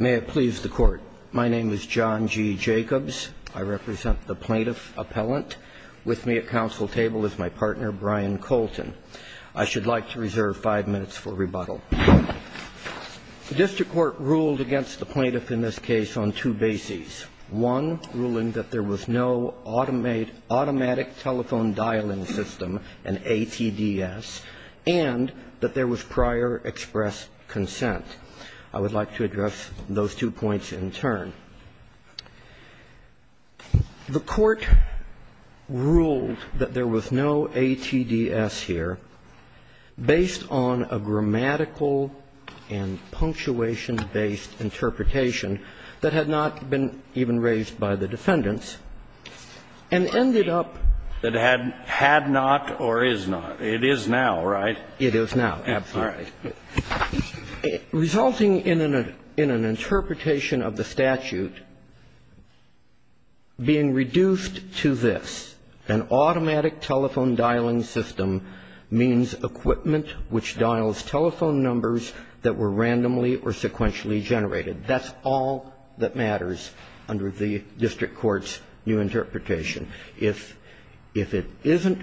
May it please the Court. My name is John G. Jacobs. I represent the plaintiff appellant. With me at council table is my partner, Brian Colton. I should like to reserve five minutes for rebuttal. The district court ruled against the plaintiff in this case on two bases. One, ruling that there was no automate automatic telephone dialing system, an ATDS, and that there was prior express consent. I would like to address those two points in turn. The court ruled that there was no ATDS here, based on a grammatical and punctuation-based interpretation that had not been even raised by the defendants, and ended up That had not or is not. It is now, right? It is now, absolutely. Resulting in an interpretation of the statute, being reduced to this, an automatic telephone dialing system means equipment which dials telephone numbers that were randomly or sequentially generated. That's all that matters under the district court's new interpretation. If it isn't,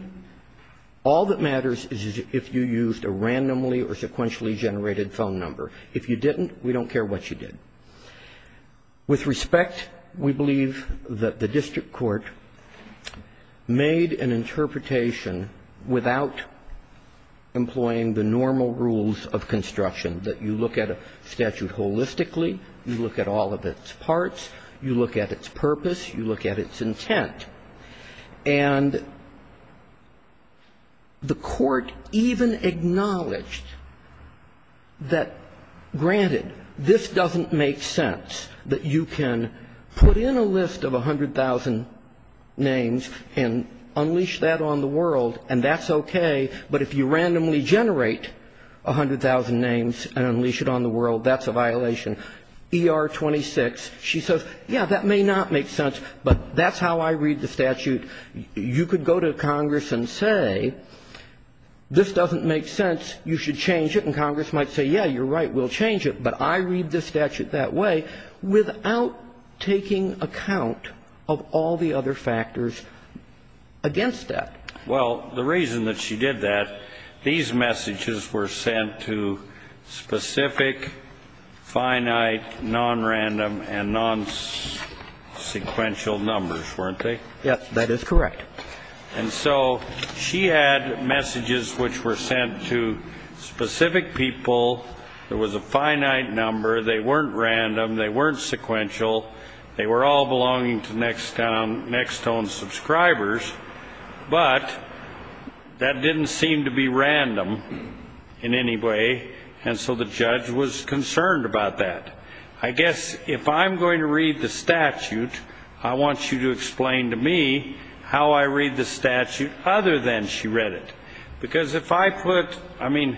all that matters is if you used a randomly or sequentially generated phone number. If you didn't, we don't care what you did. With respect, we believe that the district court made an interpretation without employing the normal rules of construction, that you look at a statute holistically, you look at all of its parts, you look at its purpose, you look at its intent. And the court even acknowledged that, granted, this doesn't make sense, that you can put in a list of 100,000 names and unleash that on the world, and that's okay, but if you randomly generate 100,000 names and unleash it on the world, that's a violation. ER-26, she says, yeah, that may not make sense, but that's how I read the statute. You could go to Congress and say, this doesn't make sense, you should change it, and Congress might say, yeah, you're right, we'll change it, but I read the statute that way without taking account of all the other factors against that. Well, the reason that she did that, these messages were sent to specific, finite, non-random, and non-sequential numbers, weren't they? Yes, that is correct. And so she had messages which were sent to specific people, there was a finite number, they weren't random, they weren't sequential, they were all belonging to next tone subscribers, but that didn't seem to be random in any way, and so the judge was concerned about that. I guess if I'm going to read the statute, I want you to explain to me how I read the statute other than she read it. Because if I put, I mean,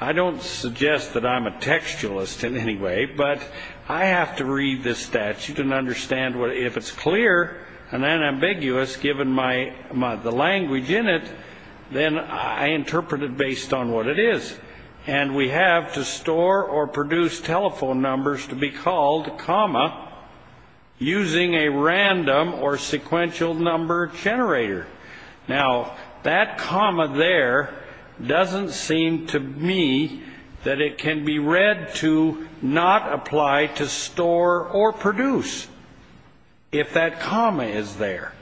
I don't suggest that I'm a textualist in any way, but I have to read this statute and understand if it's clear and unambiguous given the language in it, then I interpret it based on what it is. And we have to store or produce telephone numbers to be called, comma, using a random or sequential number generator. Now, that comma there doesn't seem to me that it can be read to not apply to store or produce if that comma is there.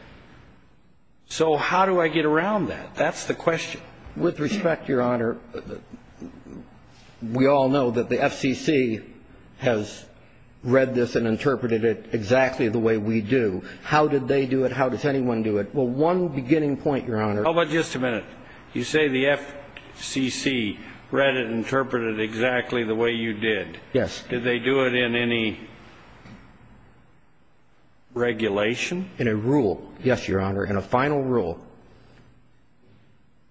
So how do I get around that? That's the question. With respect, Your Honor, we all know that the FCC has read this and interpreted it exactly the way we do. How did they do it? How does anyone do it? Well, one beginning point, Your Honor. How about just a minute? You say the FCC read it and interpreted it exactly the way you did. Yes. Did they do it in any regulation? In a rule. Yes, Your Honor, in a final rule.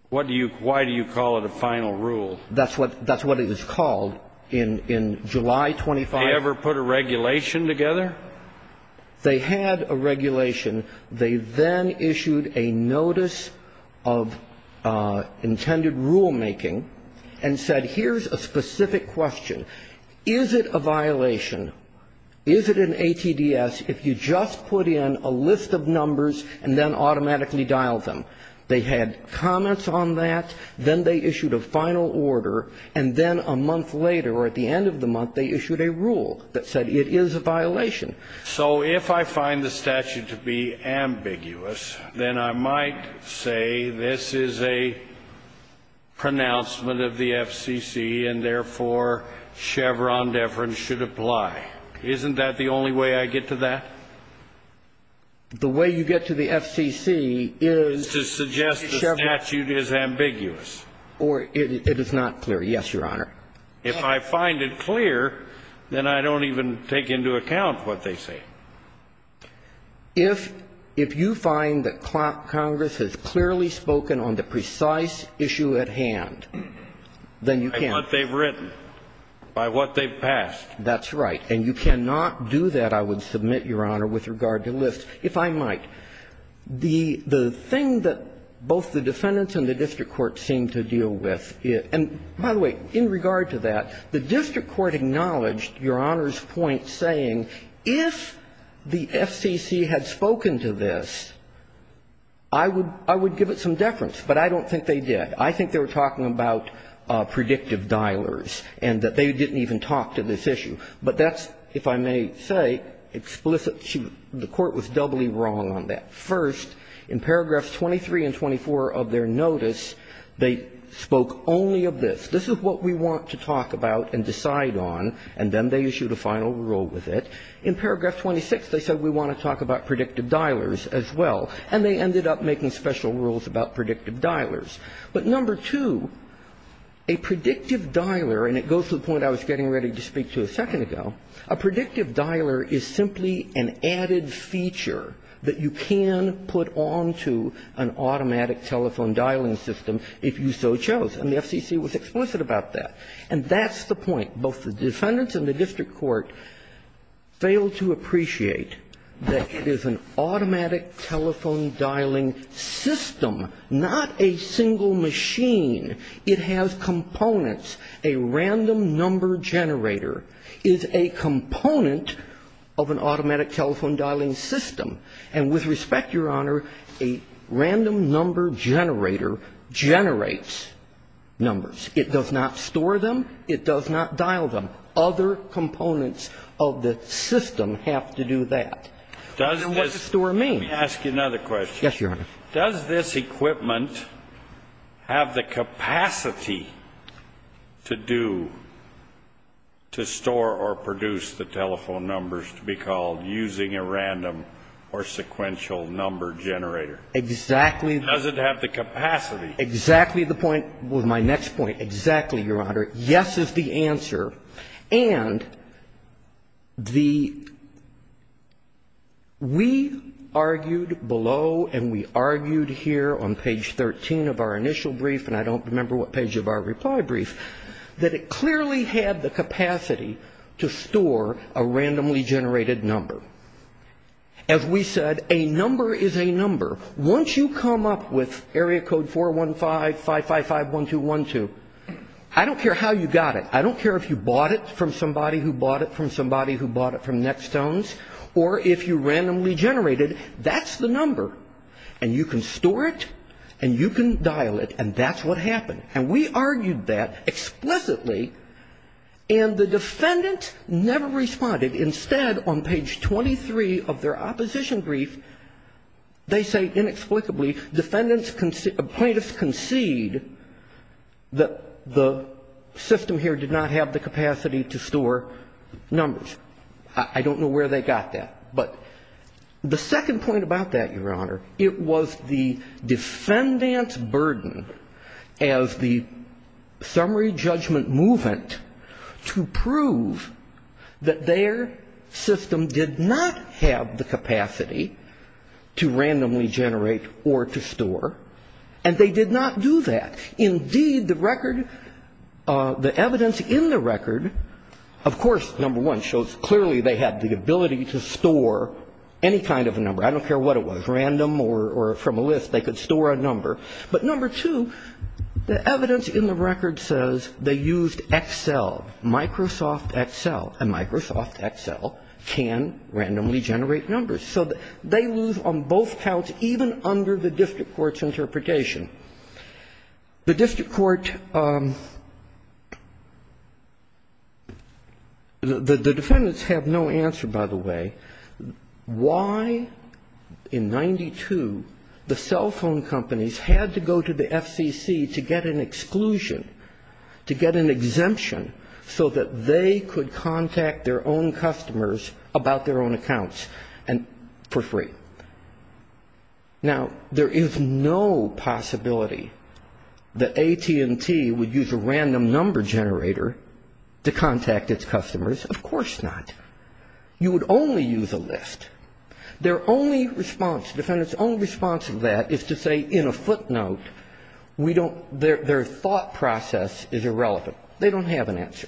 What do you, why do you call it a final rule? That's what, that's what it is called in, in July 25th. They ever put a regulation together? They had a regulation. They then issued a notice of intended rulemaking and said here's a specific question. Is it a violation? Is it an ATDS if you just put in a list of numbers and then automatically dial them? They had comments on that. Then they issued a final order. And then a month later, or at the end of the month, they issued a rule that said it is a violation. So if I find the statute to be ambiguous, then I might say this is a pronouncement of the FCC. And therefore, Chevron deference should apply. Isn't that the only way I get to that? The way you get to the FCC is to suggest the statute is ambiguous. Or it is not clear. Yes, Your Honor. If I find it clear, then I don't even take into account what they say. If, if you find that Congress has clearly spoken on the precise issue at hand, then you can't- By what they've written, by what they've passed. That's right. And you cannot do that, I would submit, Your Honor, with regard to lists, if I might. The, the thing that both the defendants and the district court seem to deal with is, and by the way, in regard to that, the district court acknowledged Your Honor's point saying, if the FCC had spoken to this, I would, I would give it some deference. But I don't think they did. I think they were talking about predictive dialers and that they didn't even talk to this issue. But that's, if I may say, explicit. The Court was doubly wrong on that. First, in paragraphs 23 and 24 of their notice, they spoke only of this. This is what we want to talk about and decide on, and then they issued a final rule with it. In paragraph 26, they said we want to talk about predictive dialers as well. And they ended up making special rules about predictive dialers. But number two, a predictive dialer, and it goes to the point I was getting ready to speak to a second ago, a predictive dialer is simply an added feature that you can put on to an automatic telephone dialing system if you so chose. And the FCC was explicit about that. And that's the point. Both the defendants and the district court failed to appreciate that it is an automatic telephone dialing system, not a single machine. It has components. A random number generator is a component of an automatic telephone dialing system. And with respect, Your Honor, a random number generator generates numbers. It does not store them. It does not dial them. Other components of the system have to do that. And what does store mean? Let me ask you another question. Yes, Your Honor. Does this equipment have the capacity to do, to store or produce the telephone numbers to be called using a random or sequential number generator? Exactly. Does it have the capacity? Exactly the point with my next point. Exactly, Your Honor. Yes is the answer. And the, we argued below and we argued here on page 13 of our initial brief, and I don't remember what page of our reply brief, that it clearly had the capacity to store a randomly generated number. As we said, a number is a number. Once you come up with area code 415-555-1212, I don't care how you got it. I don't care if you bought it from somebody who bought it from somebody who bought it from Nextones, or if you randomly generated, that's the number. And you can store it, and you can dial it, and that's what happened. And we argued that explicitly, and the defendant never responded. Instead, on page 23 of their opposition brief, they say inexplicably, defendants concede, plaintiffs concede that the system here did not have the capacity to store numbers. I don't know where they got that. But the second point about that, Your Honor, it was the defendant's burden as the summary judgment movement to prove that their system did not have the capacity to randomly generate or to store, and they did not do that. Indeed, the record, the evidence in the record, of course, number one, shows clearly they had the ability to store any kind of a number. I don't care what it was, random or from a list, they could store a number. But number two, the evidence in the record says they used Excel, Microsoft Excel, and Microsoft Excel can randomly generate numbers. So they lose on both counts, even under the district court's interpretation. The district court, the defendants have no answer, by the way, why in 92 the cell phone companies had to go to the FCC to get an exclusion, to get an exemption so that they could contact their own customers about their own accounts for free. Now, there is no possibility that AT&T would use a random number generator to contact its customers, of course not. You would only use a list. Their only response, defendant's only response to that is to say in a footnote, we don't, their thought process is irrelevant. They don't have an answer.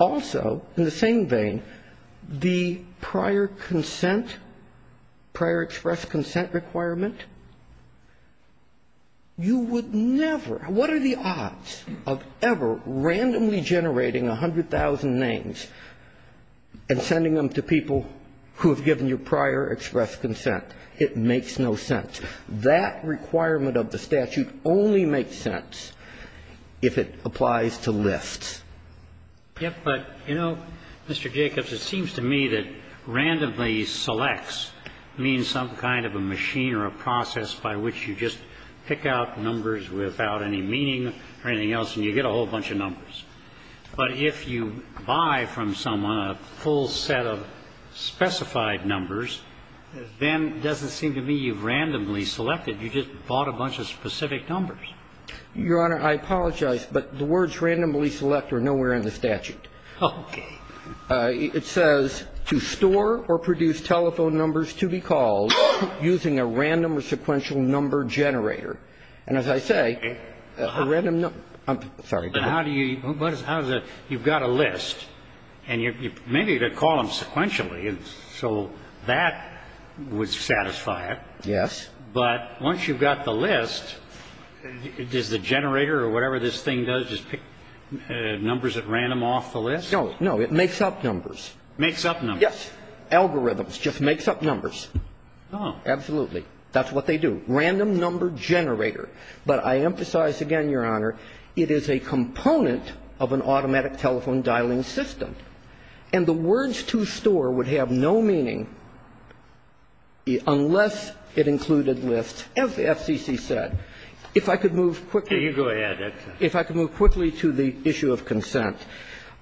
Also, in the same vein, the prior consent, prior express consent requirement. You would never, what are the odds of ever randomly generating 100,000 names and sending them to people who have given you prior express consent? It makes no sense. That requirement of the statute only makes sense if it applies to lists. But, you know, Mr. Jacobs, it seems to me that randomly selects means some kind of a machine or a process by which you just pick out numbers without any meaning or anything else and you get a whole bunch of numbers. But if you buy from someone a full set of specified numbers, then it doesn't seem to me you've randomly selected. You just bought a bunch of specific numbers. Your Honor, I apologize, but the words randomly select are nowhere in the statute. Okay. It says, to store or produce telephone numbers to be called using a random or sequential number generator. And as I say, a random number, I'm sorry. But how do you, how does it, you've got a list, and maybe you could call them sequentially. So that would satisfy it. Yes. But once you've got the list, does the generator or whatever this thing does just pick numbers at random off the list? No, no, it makes up numbers. Makes up numbers. Yes. Algorithms just makes up numbers. Oh. Absolutely. That's what they do. Random number generator. But I emphasize again, Your Honor, it is a component of an automatic telephone dialing system. And the words to store would have no meaning unless it included lists. As the FCC said, if I could move quickly. You go ahead. If I could move quickly to the issue of consent.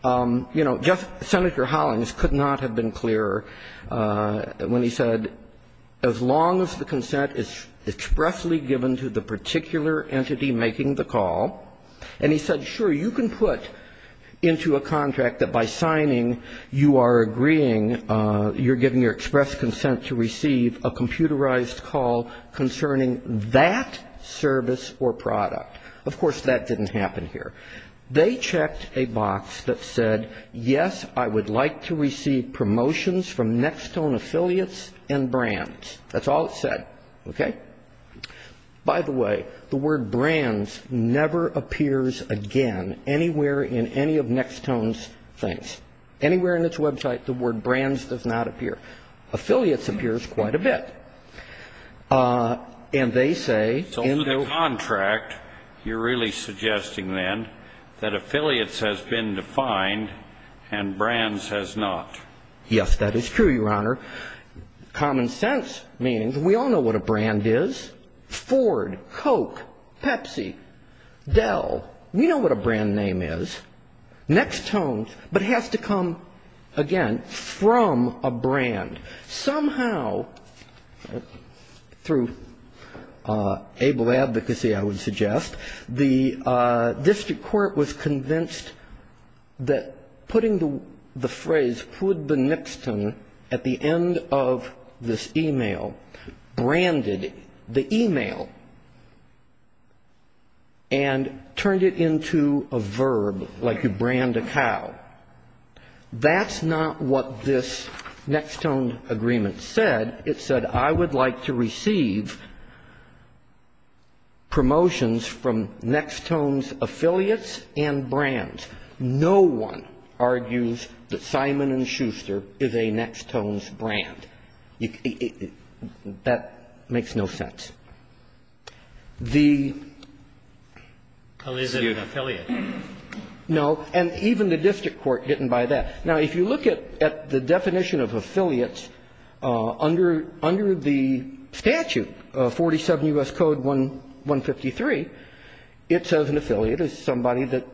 You know, Senator Hollings could not have been clearer when he said, as long as the consent is expressly given to the particular entity making the call. And he said, sure, you can put into a contract that by signing, you are agreeing, you're giving your express consent to receive a computerized call concerning that service or product. Of course, that didn't happen here. They checked a box that said, yes, I would like to receive promotions from Nextone affiliates and brands. That's all it said. Okay? By the way, the word brands never appears again anywhere in any of Nextone's things. Anywhere in its website, the word brands does not appear. Affiliates appears quite a bit. And they say in the contract, you're really suggesting then that affiliates has been defined and brands has not. Yes, that is true, Your Honor. Common sense means we all know what a brand is. Ford, Coke, Pepsi, Dell, we know what a brand name is. Nextone, but has to come, again, from a brand. Somehow, through able advocacy, I would suggest, the district court was convinced that putting the phrase, could be Nextone, at the end of this e-mail, branded the e-mail and turned it into a verb, like you brand a cow. That's not what this Nextone agreement said. It said, I would like to receive promotions from Nextone's affiliates and brands. No one argues that Simon & Schuster is a Nextone's brand. That makes no sense. The student. Well, is it an affiliate? No. And even the district court didn't buy that. Now, if you look at the definition of affiliates, under the statute, 47 U.S. Code 153, it says an affiliate is somebody that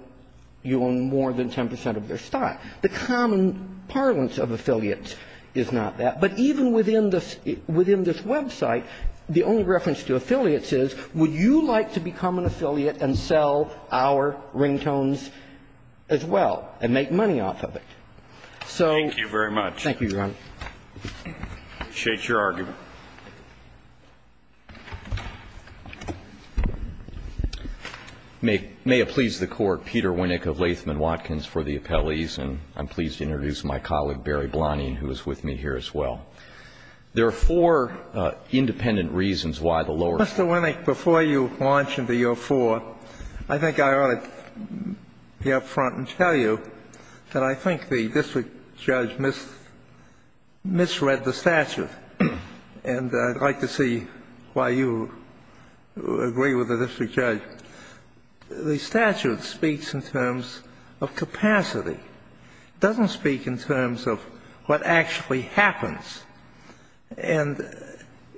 you own more than 10 percent of their stock. The common parlance of affiliates is not that. But even within this website, the only reference to affiliates is, would you like to become an affiliate and sell our ringtones as well, and make money off of it? So. Thank you very much. Thank you, Your Honor. I appreciate your argument. May it please the Court, Peter Winnick of Latham & Watkins for the appellees. And I'm pleased to introduce my colleague, Barry Blonning, who is with me here as well. There are four independent reasons why the lower court. Mr. Winnick, before you launch into your four, I think I ought to be up front and tell you that I think the district judge misread the statute. And I'd like to see why you agree with the district judge. The statute speaks in terms of capacity. It doesn't speak in terms of what actually happens. And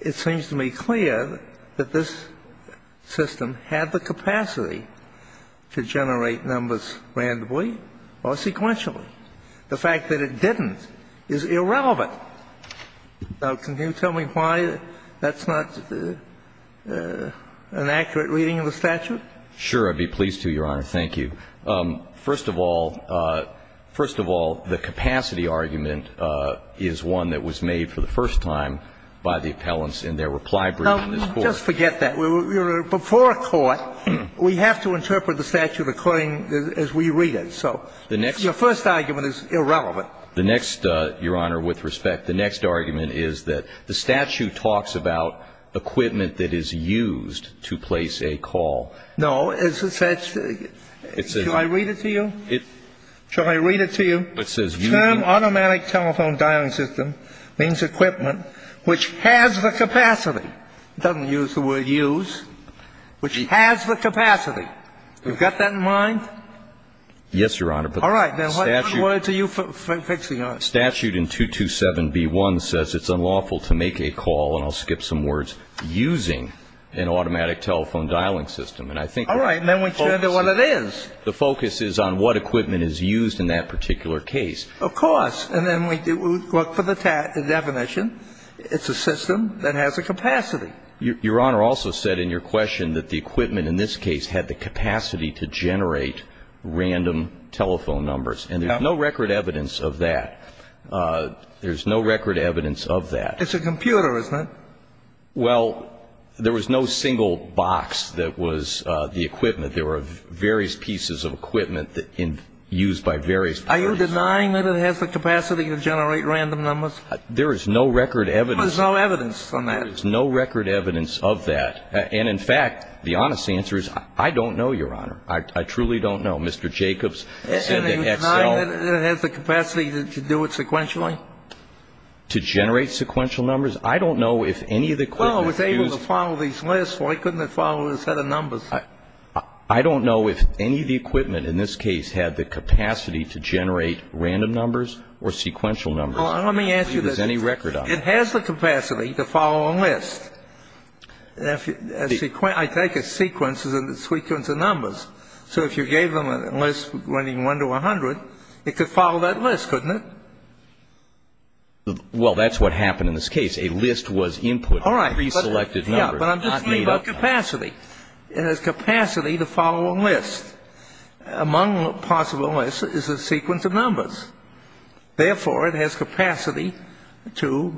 it seems to me clear that this system had the capacity to generate numbers randomly or sequentially. The fact that it didn't is irrelevant. Now, can you tell me why that's not an accurate reading of the statute? Sure. I'd be pleased to, Your Honor. Thank you. First of all, the capacity argument is one that was made for the first time by the appellants in their reply brief in this Court. Now, just forget that. Before a court, we have to interpret the statute according as we read it. So your first argument is irrelevant. The next, Your Honor, with respect, the next argument is that the statute talks about equipment that is used to place a call. No. It's a set of – should I read it to you? Should I read it to you? It says, Term, automatic telephone dialing system, means equipment which has the capacity. It doesn't use the word use, which has the capacity. You've got that in mind? Yes, Your Honor. All right. Then what words are you fixing on? Statute in 227b1 says it's unlawful to make a call, and I'll skip some words, but it's unlawful to use an automatic telephone dialing system. And I think the focus is on what equipment is used in that particular case. Of course. And then we look for the definition. It's a system that has a capacity. Your Honor also said in your question that the equipment in this case had the capacity to generate random telephone numbers. And there's no record evidence of that. There's no record evidence of that. It's a computer, isn't it? Well, there was no single box that was the equipment. There were various pieces of equipment used by various persons. Are you denying that it has the capacity to generate random numbers? There is no record evidence. There's no evidence on that. There's no record evidence of that. And in fact, the honest answer is, I don't know, Your Honor. I truly don't know. Mr. Jacobs said that Excel And are you denying that it has the capacity to do it sequentially? To generate sequential numbers? I don't know if any of the equipment used Well, it was able to follow these lists. Why couldn't it follow a set of numbers? I don't know if any of the equipment in this case had the capacity to generate random numbers or sequential numbers. Well, let me ask you this. If there's any record on it. It has the capacity to follow a list. I take a sequence as a sequence of numbers. So if you gave them a list running 1 to 100, it could follow that list, couldn't it? Well, that's what happened in this case. A list was input. All right. Reselected numbers. But I'm just talking about capacity. It has capacity to follow a list. Among possible lists is a sequence of numbers. Therefore, it has capacity to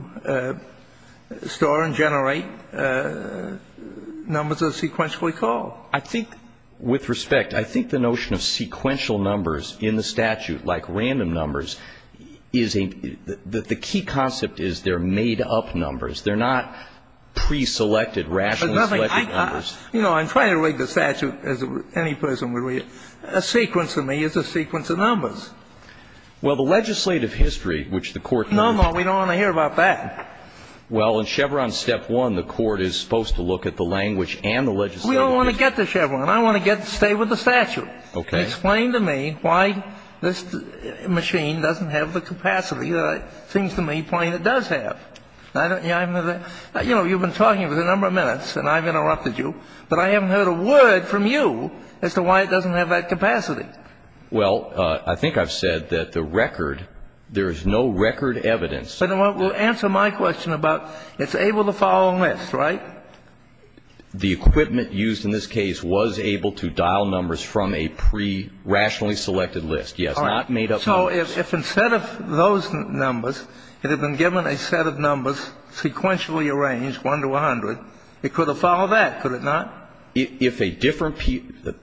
store and generate numbers that are sequentially called. I think with respect, I think the notion of sequential numbers in the statute, like random numbers, is a The key concept is they're made up numbers. They're not preselected, rationally selected numbers. You know, I'm trying to read the statute as any person would read it. A sequence to me is a sequence of numbers. Well, the legislative history, which the court. No, no, we don't want to hear about that. Well, in Chevron step one, the court is supposed to look at the language and the legislative history. We don't want to get to Chevron. I want to get to stay with the statute. Explain to me why this machine doesn't have the capacity that it seems to me Plano does have. You know, you've been talking for a number of minutes, and I've interrupted you, but I haven't heard a word from you as to why it doesn't have that capacity. Well, I think I've said that the record, there is no record evidence. Answer my question about it's able to follow a list, right? The equipment used in this case was able to dial numbers from a pre rationally selected list. Yes. Not made up. So if instead of those numbers, it had been given a set of numbers sequentially arranged one to 100, it could have followed that. Could it not? If a different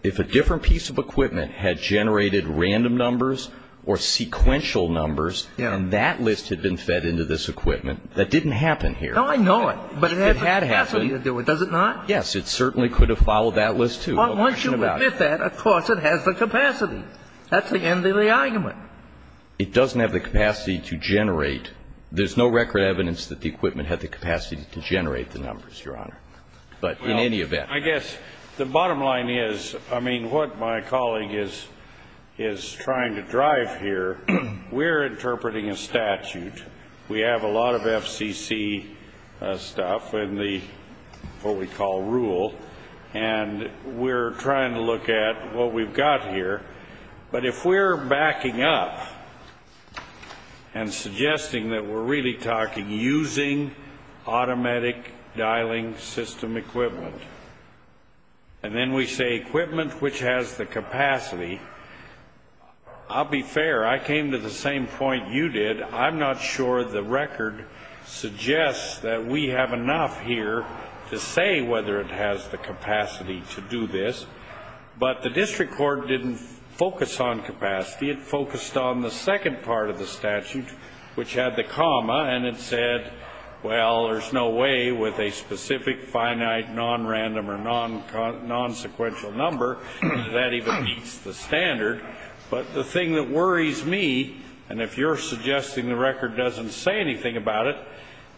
if a different piece of equipment had generated random numbers or sequential numbers and that list had been fed into this equipment, that didn't happen here. No, I know it, but it had the capacity to do it. Does it not? Yes. It certainly could have followed that list, too. But once you admit that, of course, it has the capacity. That's the end of the argument. It doesn't have the capacity to generate. There's no record evidence that the equipment had the capacity to generate the numbers, Your Honor, but in any event. I guess the bottom line is, I mean, what my colleague is trying to drive here, we're interpreting a statute. We have a lot of FCC stuff in the what we call rule, and we're trying to look at what we've got here. But if we're backing up and suggesting that we're really talking using automatic dialing system equipment, and then we say equipment which has the capacity, I'll be fair. I came to the same point you did. I'm not sure the record suggests that we have enough here to say whether it has the capacity to do this, but the district court didn't focus on capacity. It focused on the second part of the statute, which had the comma, and it said, well, there's no way with a specific finite non-random or non-sequential number that even meets the standard. But the thing that worries me, and if you're suggesting the record doesn't say anything about it,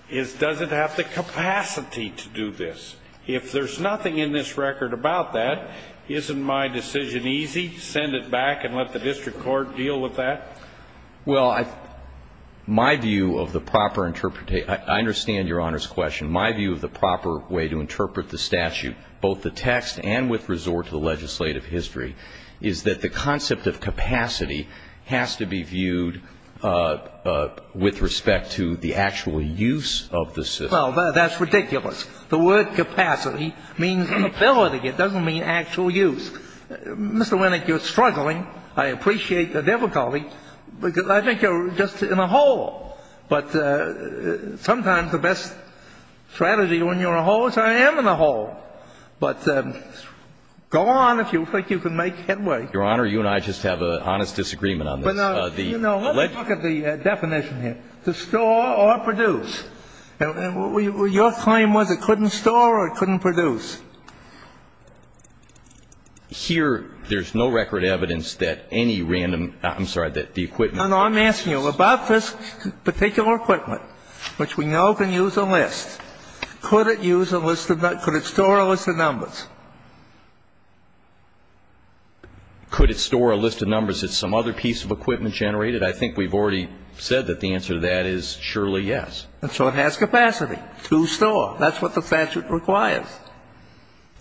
is does it have the capacity to do this? If there's nothing in this record about that, isn't my decision easy, send it back and let the district court deal with that? Well, my view of the proper interpretation, I understand Your Honor's question, my view of the proper way to interpret the statute, both the text and with resort to the legislative history, is that the concept of capacity has to be viewed with respect to the actual use of the system. Well, that's ridiculous. The word capacity means inability. It doesn't mean actual use. Mr. Winnick, you're struggling. I appreciate the difficulty because I think you're just in a hole. But sometimes the best strategy when you're a hole is I am in a hole. But go on if you think you can make headway. Your Honor, you and I just have an honest disagreement on this. But, you know, let's look at the definition here, to store or produce. Your claim was it couldn't store or it couldn't produce. Here, there's no record evidence that any random – I'm sorry, that the equipment No, no, I'm asking you, about this particular equipment, which we know can use a list, could it use a list of – could it store a list of numbers? Could it store a list of numbers? It's some other piece of equipment generated? I think we've already said that the answer to that is surely yes. And so it has capacity to store. That's what the statute requires.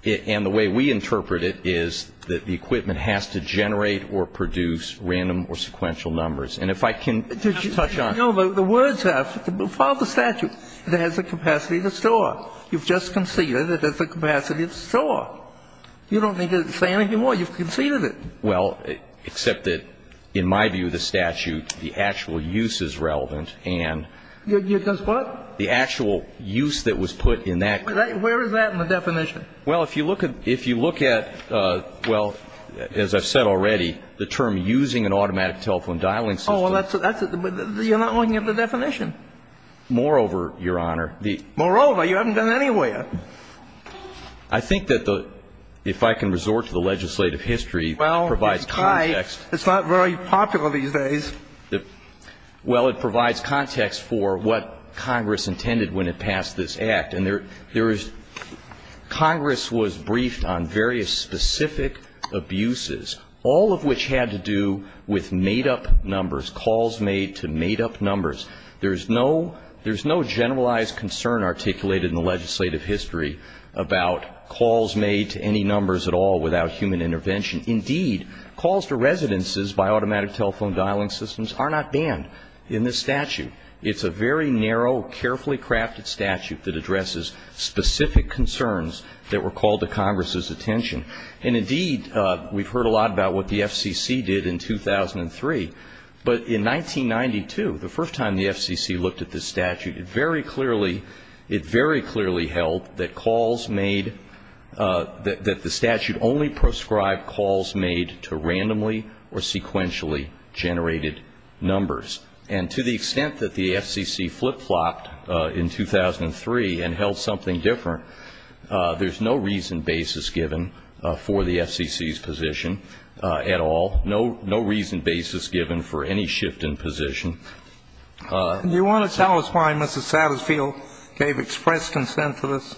And the way we interpret it is that the equipment has to generate or produce random or sequential numbers. And if I can touch on – No, the words have – follow the statute. It has the capacity to store. You've just conceded it has the capacity to store. You don't need to say anything more. You've conceded it. Well, except that in my view of the statute, the actual use is relevant and – It does what? The actual use that was put in that – Where is that in the definition? Well, if you look at – if you look at, well, as I've said already, the term using an automatic telephone dialing system – Oh, well, that's – you're not looking at the definition. Moreover, Your Honor, the – Moreover? You haven't done anywhere. I think that the – if I can resort to the legislative history, it provides context – Well, it's not very popular these days. Well, it provides context for what Congress intended when it passed this Act. And there is – Congress was briefed on various specific abuses, all of which had to do with made-up numbers, calls made to made-up numbers. There's no – there's no generalized concern articulated in the legislative history about calls made to any numbers at all without human intervention. Indeed, calls to residences by automatic telephone dialing systems are not banned in this statute. It's a very narrow, carefully crafted statute that addresses specific concerns that were called to Congress's attention. And indeed, we've heard a lot about what the FCC did in 2003. But in 1992, the first time the FCC looked at this statute, it very clearly – it very clearly held that calls made – that the statute only proscribed calls made to randomly or sequentially generated numbers. And to the extent that the FCC flip-flopped in 2003 and held something different, there's no reason basis given for the FCC's position at all, no reason basis given for any shift in position. Do you want to tell us why Mrs. Satterfield gave express consent to this?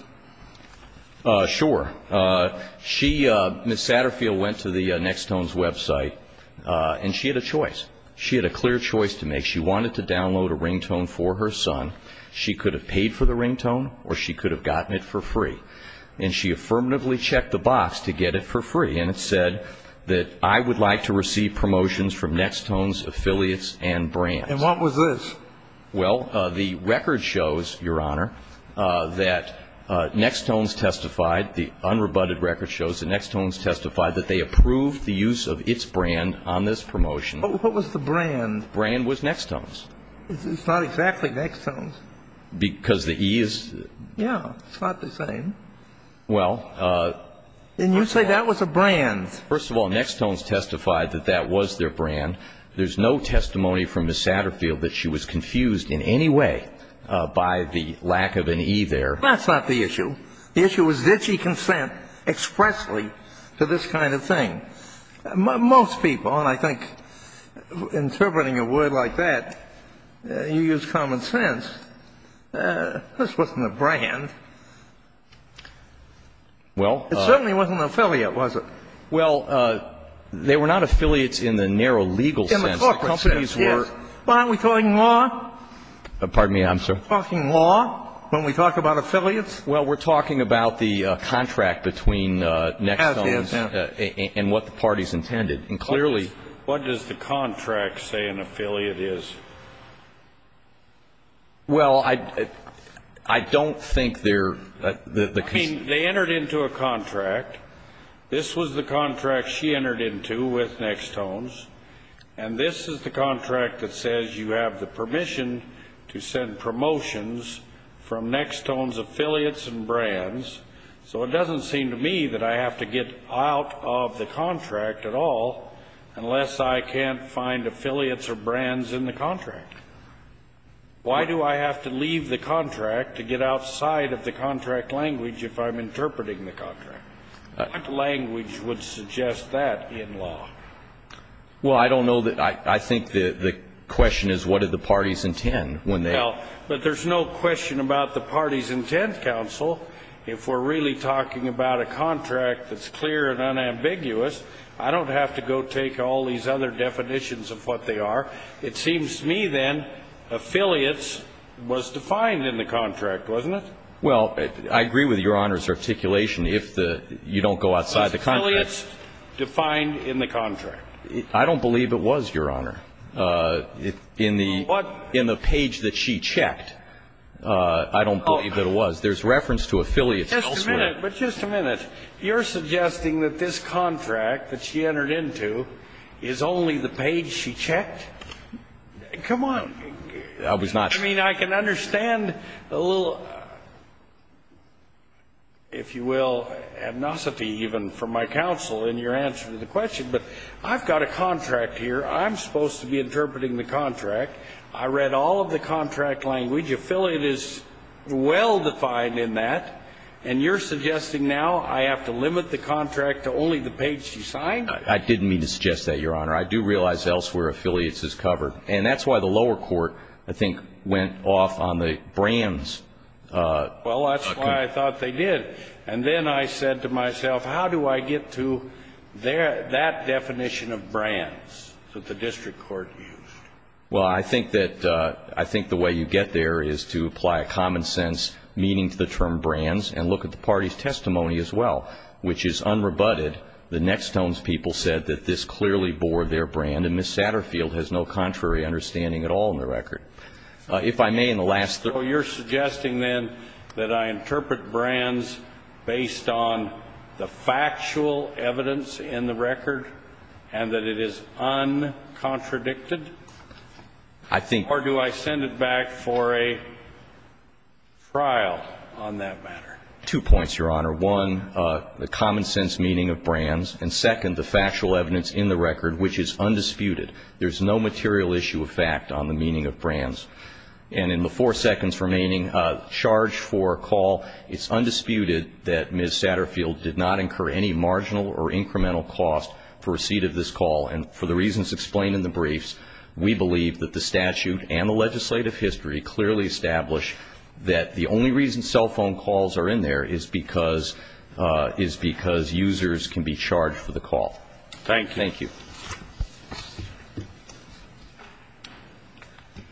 Sure. She – Ms. Satterfield went to the Nextone's website, and she had a choice. She wanted to download a ringtone for her son. She could have paid for the ringtone, or she could have gotten it for free. And she affirmatively checked the box to get it for free. And it said that, I would like to receive promotions from Nextone's affiliates and brands. And what was this? Well, the record shows, Your Honor, that Nextone's testified – the unrebutted record shows that Nextone's testified that they approved the use of its brand on this promotion. What was the brand? The brand was Nextone's. It's not exactly Nextone's. Because the E is – Yeah. It's not the same. Well, I – And you say that was a brand. First of all, Nextone's testified that that was their brand. There's no testimony from Ms. Satterfield that she was confused in any way by the lack of an E there. That's not the issue. The issue is, did she consent expressly to this kind of thing? Most people, and I think interpreting a word like that, you use common sense, this wasn't a brand. Well – It certainly wasn't an affiliate, was it? Well, they were not affiliates in the narrow legal sense. In the corporate sense, yes. But aren't we talking law? Pardon me, I'm sorry. Talking law when we talk about affiliates? Well, we're talking about the contract between Nextone's – That's what the parties intended. And clearly – What does the contract say an affiliate is? Well, I don't think they're – I mean, they entered into a contract. This was the contract she entered into with Nextone's. And this is the contract that says you have the permission to send promotions from Nextone's affiliates and brands. So it doesn't seem to me that I have to get out of the contract at all unless I can't find affiliates or brands in the contract. Why do I have to leave the contract to get outside of the contract language if I'm interpreting the contract? What language would suggest that in law? Well, I don't know that – I think the question is what did the parties intend when they – Well, but there's no question about the parties' intent, counsel. If we're really talking about a contract that's clear and unambiguous, I don't have to go take all these other definitions of what they are. It seems to me, then, affiliates was defined in the contract, wasn't it? Well, I agree with Your Honor's articulation. If the – you don't go outside the contract – Was affiliates defined in the contract? I don't believe it was, Your Honor. In the – in the page that she checked, I don't believe that it was. There's reference to affiliates elsewhere. But just a minute. You're suggesting that this contract that she entered into is only the page she checked? Come on. I was not – I mean, I can understand a little, if you will, amnesty even from my counsel in your answer to the question. But I've got a contract here. I'm supposed to be interpreting the contract. I read all of the contract language. Affiliate is well defined in that. And you're suggesting now I have to limit the contract to only the page she signed? I didn't mean to suggest that, Your Honor. I do realize elsewhere affiliates is covered. And that's why the lower court, I think, went off on the brands. Well, that's why I thought they did. And then I said to myself, how do I get to that definition of brands? That the district court used. Well, I think that – I think the way you get there is to apply a common sense meaning to the term brands and look at the party's testimony as well, which is unrebutted. The Nextone's people said that this clearly bore their brand. And Ms. Satterfield has no contrary understanding at all in the record. If I may, in the last – So you're suggesting then that I interpret brands based on the factual evidence in the record and that it is uncontradicted? I think – Or do I send it back for a trial on that matter? Two points, Your Honor. One, the common sense meaning of brands. And second, the factual evidence in the record, which is undisputed. There's no material issue of fact on the meaning of brands. And in the four seconds remaining, charge for call, it's undisputed that Ms. Satterfield did not incur any marginal or incremental cost for receipt of this call. And for the reasons explained in the briefs, we believe that the statute and the legislative history clearly establish that the only reason cell phone calls are in there is because – is because users can be charged for the call. Thank you. Thank you.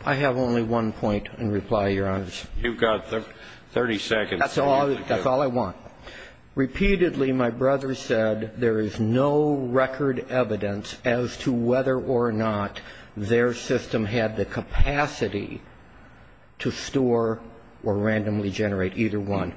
I have only one point in reply, Your Honor. You've got 30 seconds. That's all – that's all I want. Repeatedly, my brother said there is no record evidence as to whether or not their system had the capacity to store or randomly generate either one.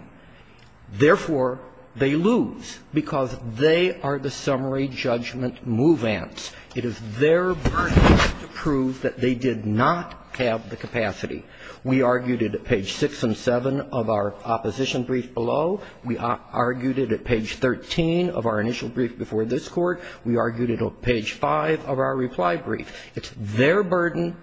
Therefore, they lose because they are the summary judgment move-ants. It is their burden to prove that they did not have the capacity. We argued it at page 6 and 7 of our opposition brief below. We argued it at page 13 of our initial brief before this Court. We argued it at page 5 of our reply brief. It's their burden,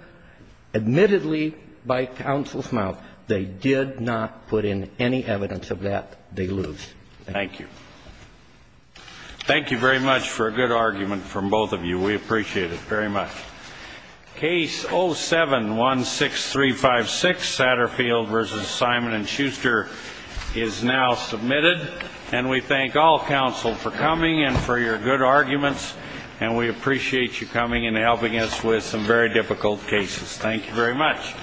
admittedly, by counsel's mouth. They did not put in any evidence of that. They lose. Thank you. Thank you very much for a good argument from both of you. We appreciate it very much. Case 07-16356, Satterfield v. Simon & Schuster, is now submitted. And we thank all counsel for coming and for your good arguments. And we appreciate you coming and helping us with some very difficult cases. Thank you very much.